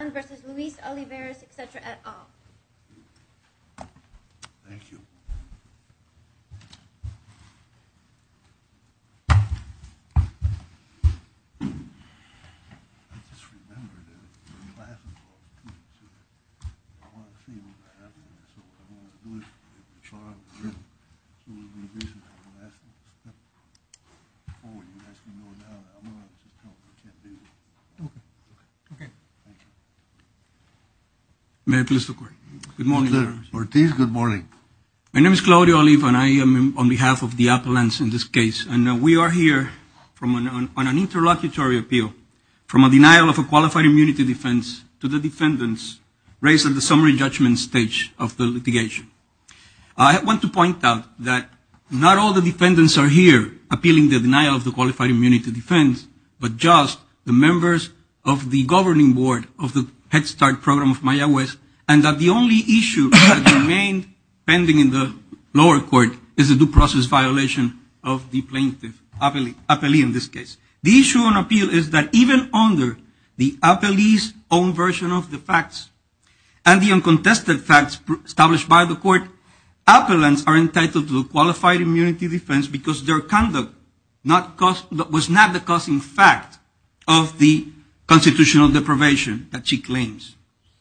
Juan v. Luis Olivares, etc. et al. Good morning. My name is Claudio Oliva and I am on behalf of the appellants in this case. And we are here on an interlocutory appeal from a denial of a qualified immunity defense to the defendants raised at the summary judgment stage of the litigation. I want to point out that not all the defendants are here appealing the denial of the qualified immunity defense, but just the members of the governing board of the Head Start program of Mayaguez, and that the only issue that remained pending in the lower court is the due process violation of the plaintiff, appellee in this case. The issue on appeal is that even under the appellee's own version of the facts and the uncontested facts established by the court, appellants are entitled to a qualified immunity defense because their conduct was not the causing fact of the constitutional deprivation that she claims.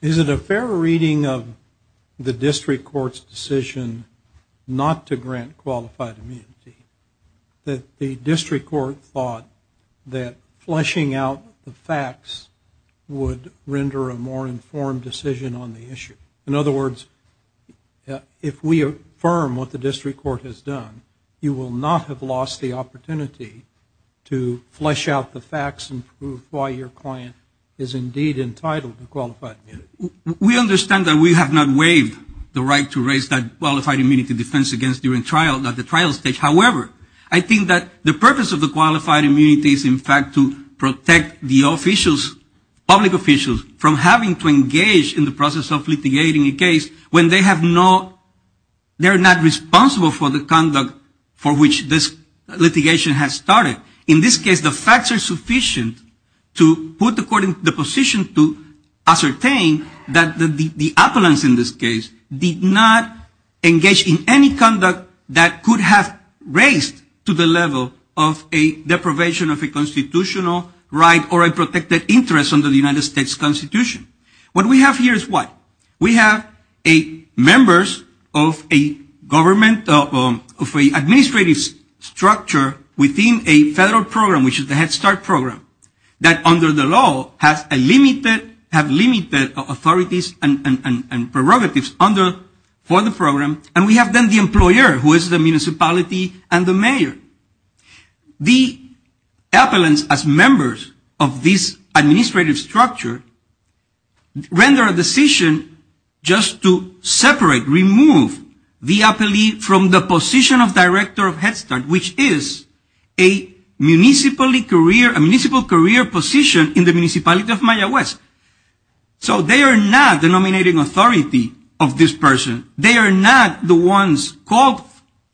Is it a fair reading of the district court's decision not to grant qualified immunity that the district court thought that fleshing out the facts would render a more informed decision on the issue? In other words, if we affirm what the district court has done, you will not have lost the opportunity to flesh out the facts and prove why your client is indeed entitled to qualified immunity. We understand that we have not waived the right to raise that qualified immunity defense against during trial at the trial stage. However, I think that the purpose of the qualified immunity is in fact to protect the public officials from having to engage in the process of litigating a case when they are not responsible for the conduct for which this litigation has started. In this case, the facts are sufficient to put the court in the position to ascertain that the appellants in this case did not engage in any conduct that could have raised to the level of a deprivation of a constitutional right or a protected interest under the United States Constitution. What we have here is what? We have members of an administrative structure within a federal program, which is the Head Start program, that under the law have limited authorities and prerogatives for the program, and we have then the employer, who is the municipality and the mayor. The appellants, as members of this administrative structure, render a decision just to separate, remove the appellee from the position of director of Head Start, which is a municipal career position in the municipality of Maya West. So they are not the nominating authority of this person. They are not the ones called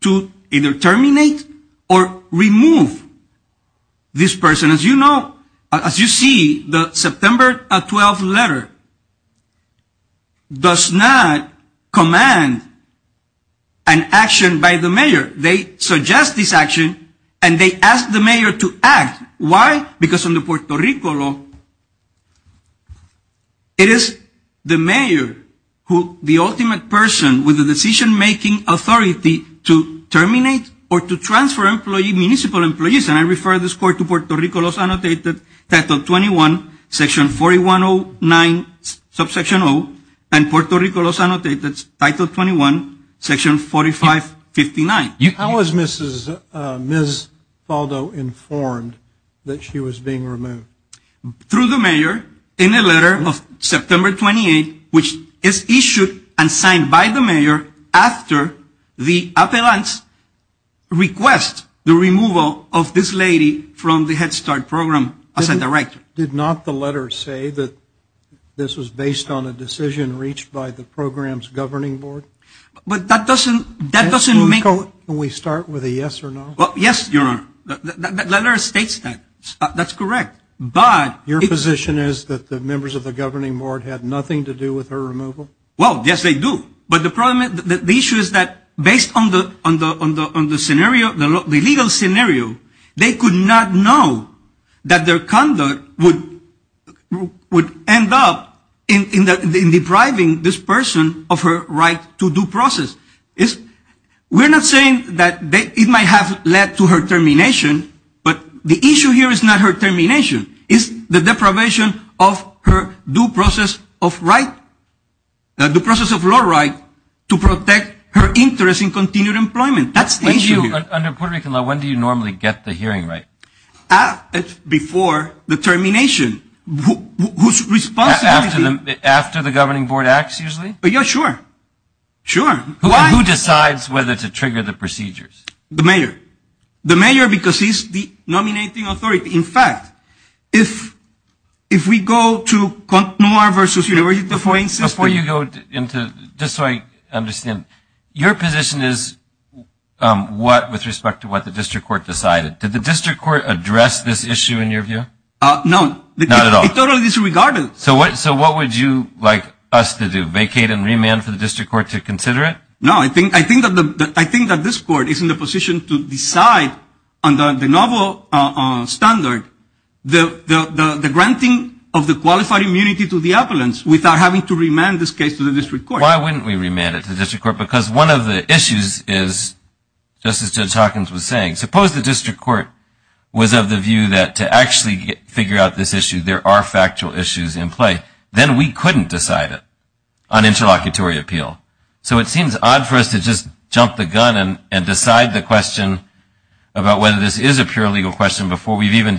to either terminate or remove this person. As you see, the September 12th letter does not command an action by the mayor. They suggest this action, and they ask the mayor to act. Why? Because under Puerto Rico law, it is the mayor who is the ultimate person with the decision-making authority to terminate or to transfer municipal employees. For this reason, I refer this court to Puerto Rico law as annotated, Title 21, Section 4109, Subsection 0, and Puerto Rico law as annotated, Title 21, Section 4559. How was Ms. Faldo informed that she was being removed? Through the mayor, in a letter of September 28th, which is issued and signed by the mayor after the appellants request the removal of this lady from the Head Start program as a director. Did not the letter say that this was based on a decision reached by the program's governing board? But that doesn't, that doesn't make Can we start with a yes or no? Well, yes, Your Honor. The letter states that. That's correct. Your position is that the members of the governing board had nothing to do with her removal? Well, yes, they do. But the problem, the issue is that based on the scenario, the legal scenario, they could not know that their conduct would end up in depriving this person of her right to due process. We're not saying that it might have led to her termination, but the issue here is not her termination. It's the deprivation of her due process of right, the due process of law right to protect her interest in continued employment. That's the issue here. Under Puerto Rico law, when do you normally get the hearing right? Before the termination. Whose responsibility? After the governing board acts, usually? Yeah, sure. Sure. Who decides whether to trigger the procedures? The mayor, the mayor, because he's the nominating authority. In fact, if if we go to CONTNUAR versus University of Hawaii. Before you go into this, I understand your position is what with respect to what the district court decided. Did the district court address this issue in your view? No, not at all. It's totally disregarded. So what so what would you like us to do, vacate and remand for the district court to consider it? No, I think I think that I think that this court is in the position to decide on the novel standard. The granting of the qualified immunity to the appellants without having to remand this case to the district court. Why wouldn't we remand it to the district court? Because one of the issues is, just as Judge Hawkins was saying, suppose the district court was of the view that to actually figure out this issue, there are factual issues in play, then we couldn't decide it on interlocutory appeal. So it seems odd for us to just jump the gun and decide the question about whether this is a pure legal question before we've even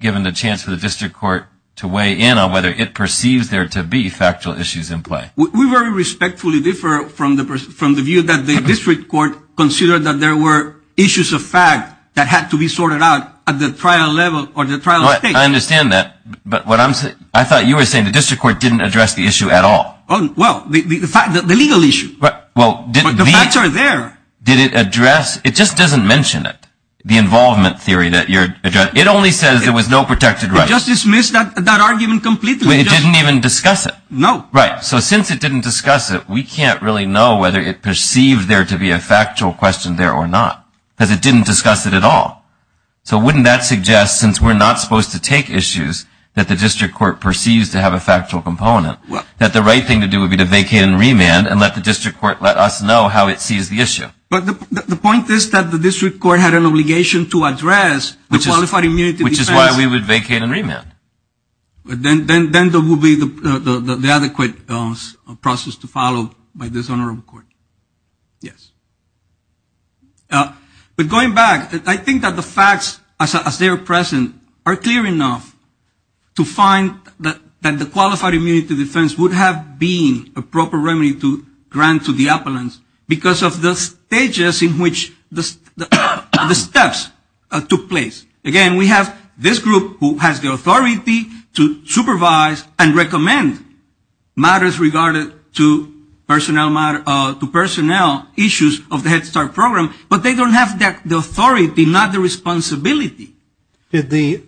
given the chance for the district court to weigh in on whether it perceives there to be factual issues in play. We very respectfully differ from the from the view that the district court considered that there were issues of fact that had to be sorted out at the trial level or the trial stage. I understand that. But what I'm saying, I thought you were saying the district court didn't address the issue at all. Well, the fact that the legal issue. Well, the facts are there. Did it address? It just doesn't mention it, the involvement theory that you're addressing. It only says there was no protected rights. It just dismissed that argument completely. It didn't even discuss it. No. Right. So since it didn't discuss it, we can't really know whether it perceived there to be a factual question there or not. Because it didn't discuss it at all. So wouldn't that suggest, since we're not supposed to take issues that the district court perceives to have a factual component, that the right thing to do would be to vacate and remand and let the district court let us know how it sees the issue. But the point is that the district court had an obligation to address the qualified immunity defense. Which is why we would vacate and remand. Then there would be the adequate process to follow by this honorable court. Yes. But going back, I think that the facts as they are present are clear enough to find that the qualified immunity defense would have been a proper remedy to grant to the appellants because of the stages in which the steps took place. Again, we have this group who has the authority to supervise and recommend matters regarded to personnel issues of the Head Start program. But they don't have the authority, not the responsibility. Did the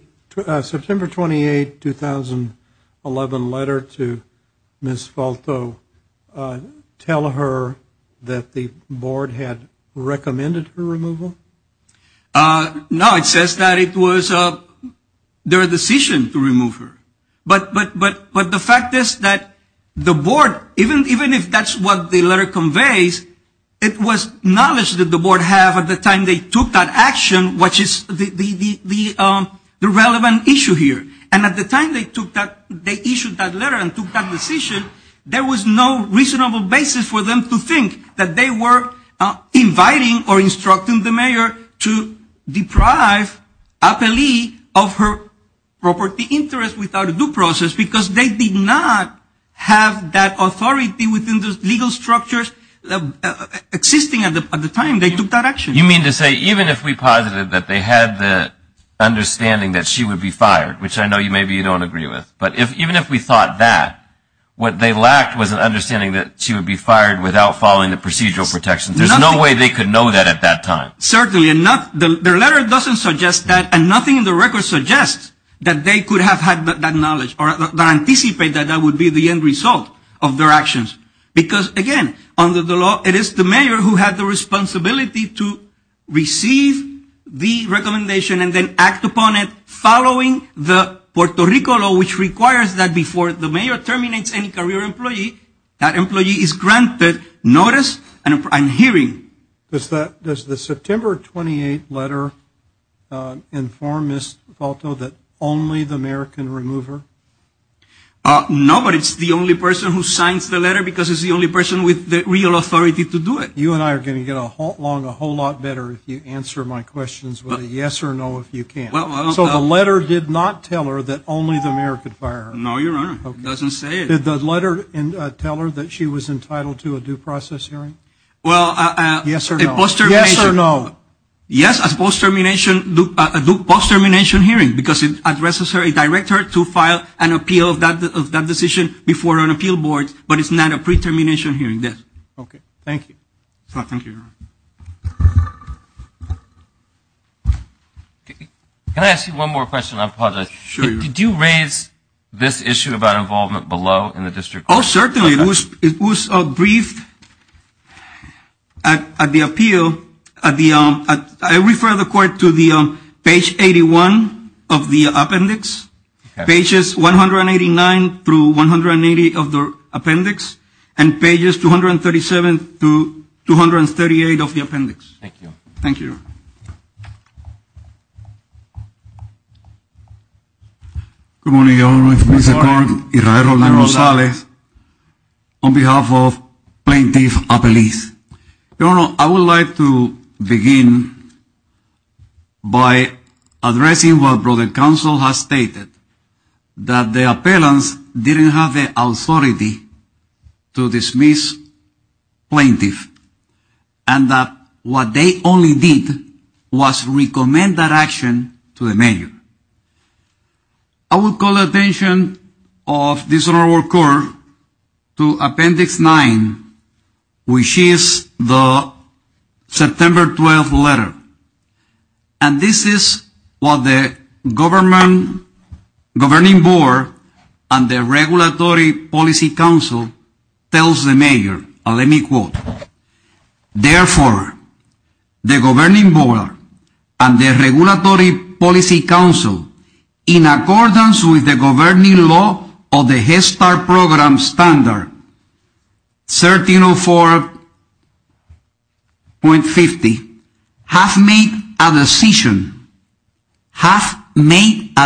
September 28, 2011 letter to Ms. Falto tell her that the board had recommended her removal? No, it says that it was their decision to remove her. But the fact is that the board, even if that's what the letter conveys, it was knowledge that the board had at the time they took that action, which is the relevant issue here. And at the time they took that, they issued that letter and took that decision, there was no reasonable basis for them to think that they were inviting or instructing the mayor to deprive appellee of her property interest without a due process because they did not have that authority within the legal structures existing at the time they took that action. You mean to say even if we posited that they had the understanding that she would be fired, which I know maybe you don't agree with, but even if we thought that, what they lacked was an understanding that she would be fired without following the procedural protections. There's no way they could know that at that time. Certainly, and their letter doesn't suggest that, and nothing in the record suggests that they could have had that knowledge or anticipate that that would be the end result of their actions. Because, again, under the law, it is the mayor who had the responsibility to receive the recommendation and then act upon it following the Puerto Rico law, which requires that before the mayor terminates any career employee, that employee is granted notice and hearing. Does the September 28th letter inform Ms. Falto that only the mayor can remove her? No, but it's the only person who signs the letter because it's the only person with the real authority to do it. You and I are going to get along a whole lot better if you answer my questions with a yes or no if you can. So the letter did not tell her that only the mayor could fire her? No, Your Honor. It doesn't say it. Did the letter tell her that she was entitled to a due process hearing? Yes or no. Yes or no. Yes, a post-termination hearing because it addresses her and directs her to file an appeal of that decision before an appeal board, but it's not a pre-termination hearing. Okay. Thank you. Thank you, Your Honor. Can I ask you one more question? I apologize. Sure. Did you raise this issue about involvement below in the district? Oh, certainly. It was briefed at the appeal. I refer the court to page 81 of the appendix, pages 189 through 180 of the appendix, and pages 237 through 238 of the appendix. Thank you. Thank you, Your Honor. Good morning, Your Honor. Good morning. On behalf of Plaintiff Apeliz. Your Honor, I would like to begin by addressing what the counsel has stated, that the appellants didn't have the authority to dismiss plaintiffs, and that what they only did was recommend that action to the mayor. I would call attention of this court to appendix 9, which is the September 12th letter, and this is what the governing board and the regulatory policy council tells the mayor. Let me quote. Therefore, the governing board and the regulatory policy council, in accordance with the governing law of the Head Start program standard 1304.50, have made a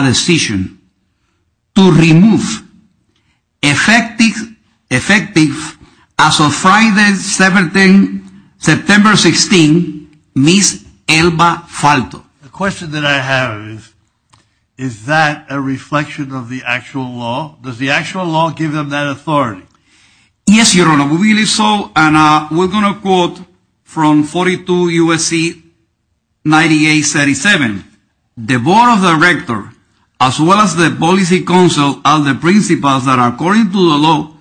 decision to remove effective as of Friday, September 16th, Ms. Elba Falto. The question that I have is, is that a reflection of the actual law? Does the actual law give them that authority? Yes, Your Honor. We believe so, and we're going to quote from 42 U.S.C. 9837. The board of directors, as well as the policy council, are the principals that according to the law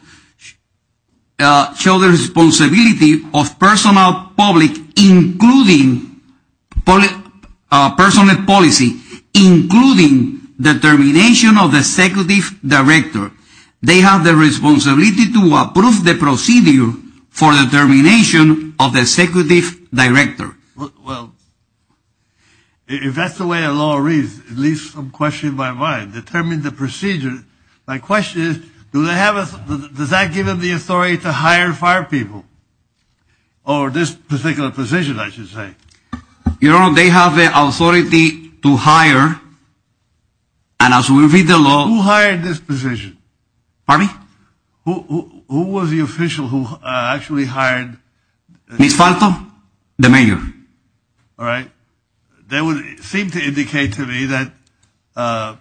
show the responsibility of personal public, including personal policy, including determination of the executive director. They have the responsibility to approve the procedure for determination of the executive director. Well, if that's the way the law reads, it leaves some questions in my mind. Determine the procedure. My question is, does that give them the authority to hire fire people? Or this particular position, I should say. Your Honor, they have the authority to hire, and as we read the law. Who hired this position? Pardon me? Who was the official who actually hired? Ms. Falto, the mayor. All right. That would seem to indicate to me that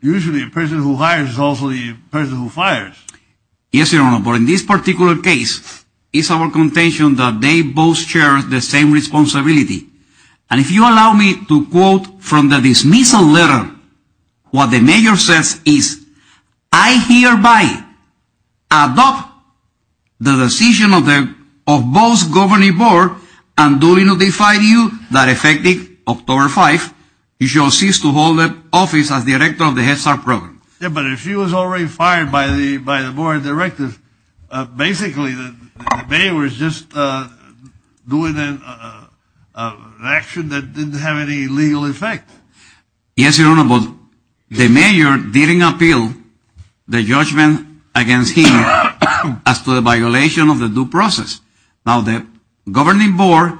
usually a person who hires is also the person who fires. Yes, Your Honor, but in this particular case, it's our contention that they both share the same responsibility. And if you allow me to quote from the dismissal letter, what the mayor says is, I hereby adopt the decision of both governing board and duly notify you that effective October 5, you shall cease to hold office as director of the Head Start program. But if she was already fired by the board of directors, basically the mayor was just doing an action that didn't have any legal effect. Yes, Your Honor, but the mayor didn't appeal the judgment against him as to the violation of the due process. Now, the governing board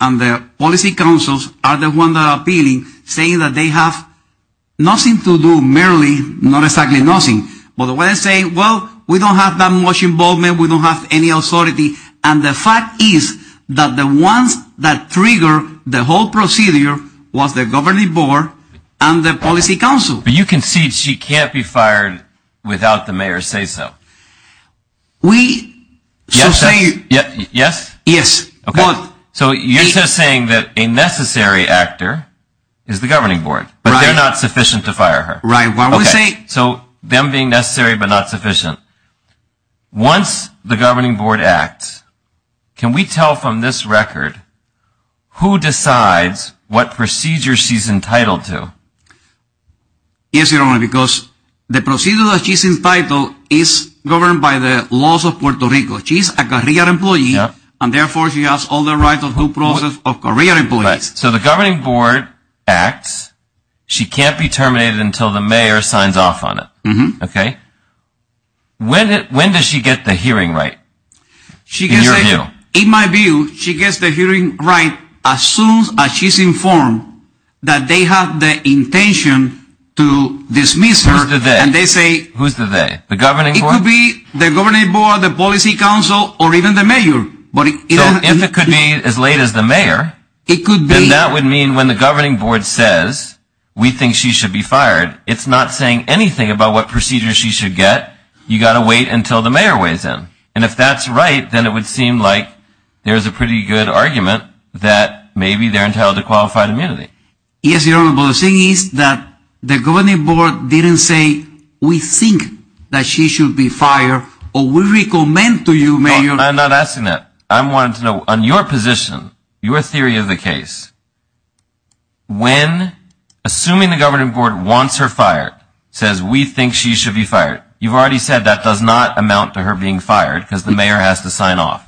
and the policy councils are the ones that are appealing, saying that they have nothing to do, merely, not exactly nothing. But when I say, well, we don't have that much involvement, we don't have any authority, and the fact is that the ones that trigger the whole procedure was the governing board and the policy council. But you concede she can't be fired without the mayor's say-so. We should say... Yes? Yes. So you're just saying that a necessary actor is the governing board, but they're not sufficient to fire her. Right. Okay, so them being necessary but not sufficient. Once the governing board acts, can we tell from this record who decides what procedure she's entitled to? Yes, Your Honor, because the procedure that she's entitled is governed by the laws of Puerto Rico. She's a career employee, and therefore she has all the right of due process of career employees. Right, so the governing board acts. She can't be terminated until the mayor signs off on it. Mm-hmm. Okay? When does she get the hearing right, in your view? In my view, she gets the hearing right as soon as she's informed that they have the intention to dismiss her. Who's the they? And they say... Who's the they? It could be the governing board, the policy council, or even the mayor. So if it could be as late as the mayor, then that would mean when the governing board says, we think she should be fired, it's not saying anything about what procedure she should get. You've got to wait until the mayor weighs in. And if that's right, then it would seem like there's a pretty good argument that maybe they're entitled to qualified immunity. Yes, Your Honor, but the thing is that the governing board didn't say, we think that she should be fired, or we recommend to you, Mayor... I'm not asking that. I'm wanting to know, on your position, your theory of the case, when assuming the governing board wants her fired, says, we think she should be fired, you've already said that does not amount to her being fired because the mayor has to sign off.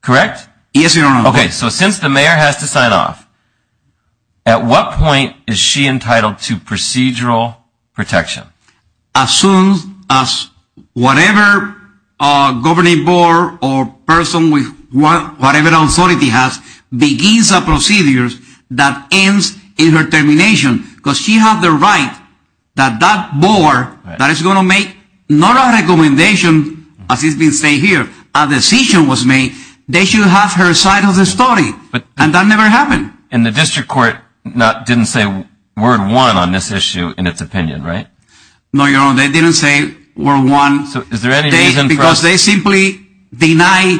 Correct? Yes, Your Honor. Okay, so since the mayor has to sign off, at what point is she entitled to procedural protection? As soon as whatever governing board or person with whatever authority has begins a procedure that ends in her termination. Because she has the right that that board that is going to make not a recommendation, as it's been stated here, a decision was made, they should have her side of the story. And that never happened. And the district court didn't say word one on this issue in its opinion, right? No, Your Honor, they didn't say word one. Is there any reason for... Because they simply deny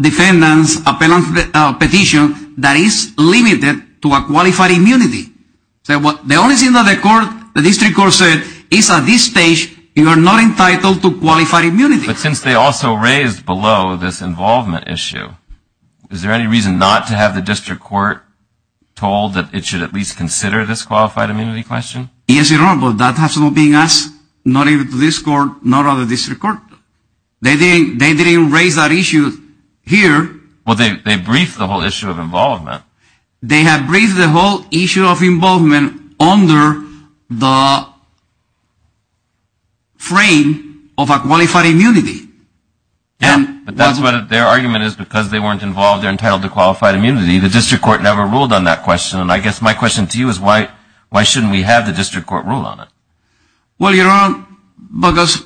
defendants a petition that is limited to a qualified immunity. The only thing that the district court said is at this stage, you are not entitled to qualified immunity. But since they also raised below this involvement issue, is there any reason not to have the district court told that it should at least consider this qualified immunity question? Yes, Your Honor, but that has not been asked, not even to this court, not other district court. They didn't raise that issue here. Well, they briefed the whole issue of involvement. They have briefed the whole issue of involvement under the frame of a qualified immunity. Yeah, but their argument is because they weren't involved, they're entitled to qualified immunity. The district court never ruled on that question. And I guess my question to you is why shouldn't we have the district court rule on it? Well, Your Honor, because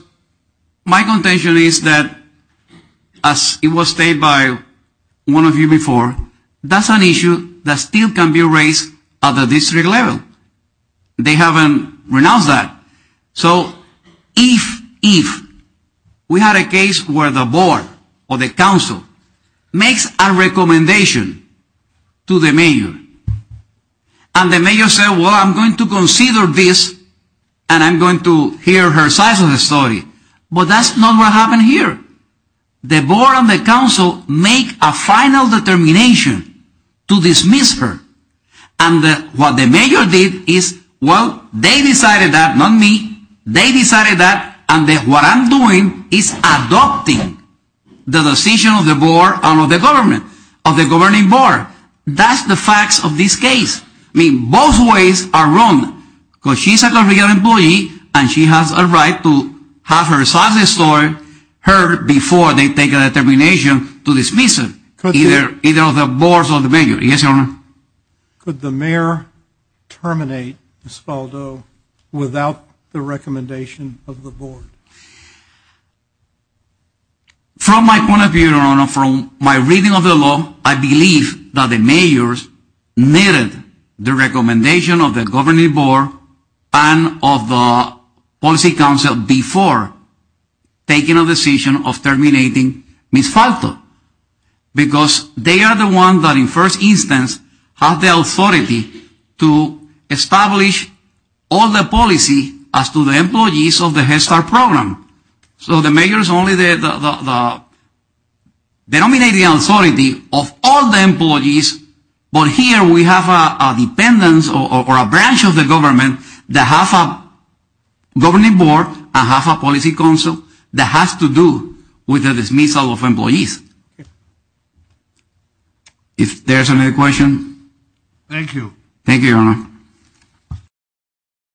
my contention is that, as it was stated by one of you before, that's an issue that still can be raised at the district level. They haven't renounced that. So if we had a case where the board or the council makes a recommendation to the mayor, and the mayor says, well, I'm going to consider this, and I'm going to hear her side of the story. Well, that's not what happened here. The board and the council make a final determination to dismiss her. And what the mayor did is, well, they decided that, not me, they decided that, and what I'm doing is adopting the decision of the board and of the government, of the governing board. That's the facts of this case. I mean, both ways are wrong. Because she's a legal employee, and she has a right to have her side of the story heard before they take a determination to dismiss her, either of the boards or the mayor. Yes, Your Honor? Could the mayor terminate Espaldo without the recommendation of the board? From my point of view, Your Honor, from my reading of the law, I believe that the mayors needed the recommendation of the governing board and of the policy council before taking a decision of terminating Ms. Espaldo. Because they are the ones that, in the first instance, have the authority to establish all the policy as to the employees of the Head Start program. So the mayor is only the dominating authority of all the employees, but here we have a dependence or a branch of the government that has a governing board and has a policy council that has to do with the dismissal of employees. If there's another question? Thank you.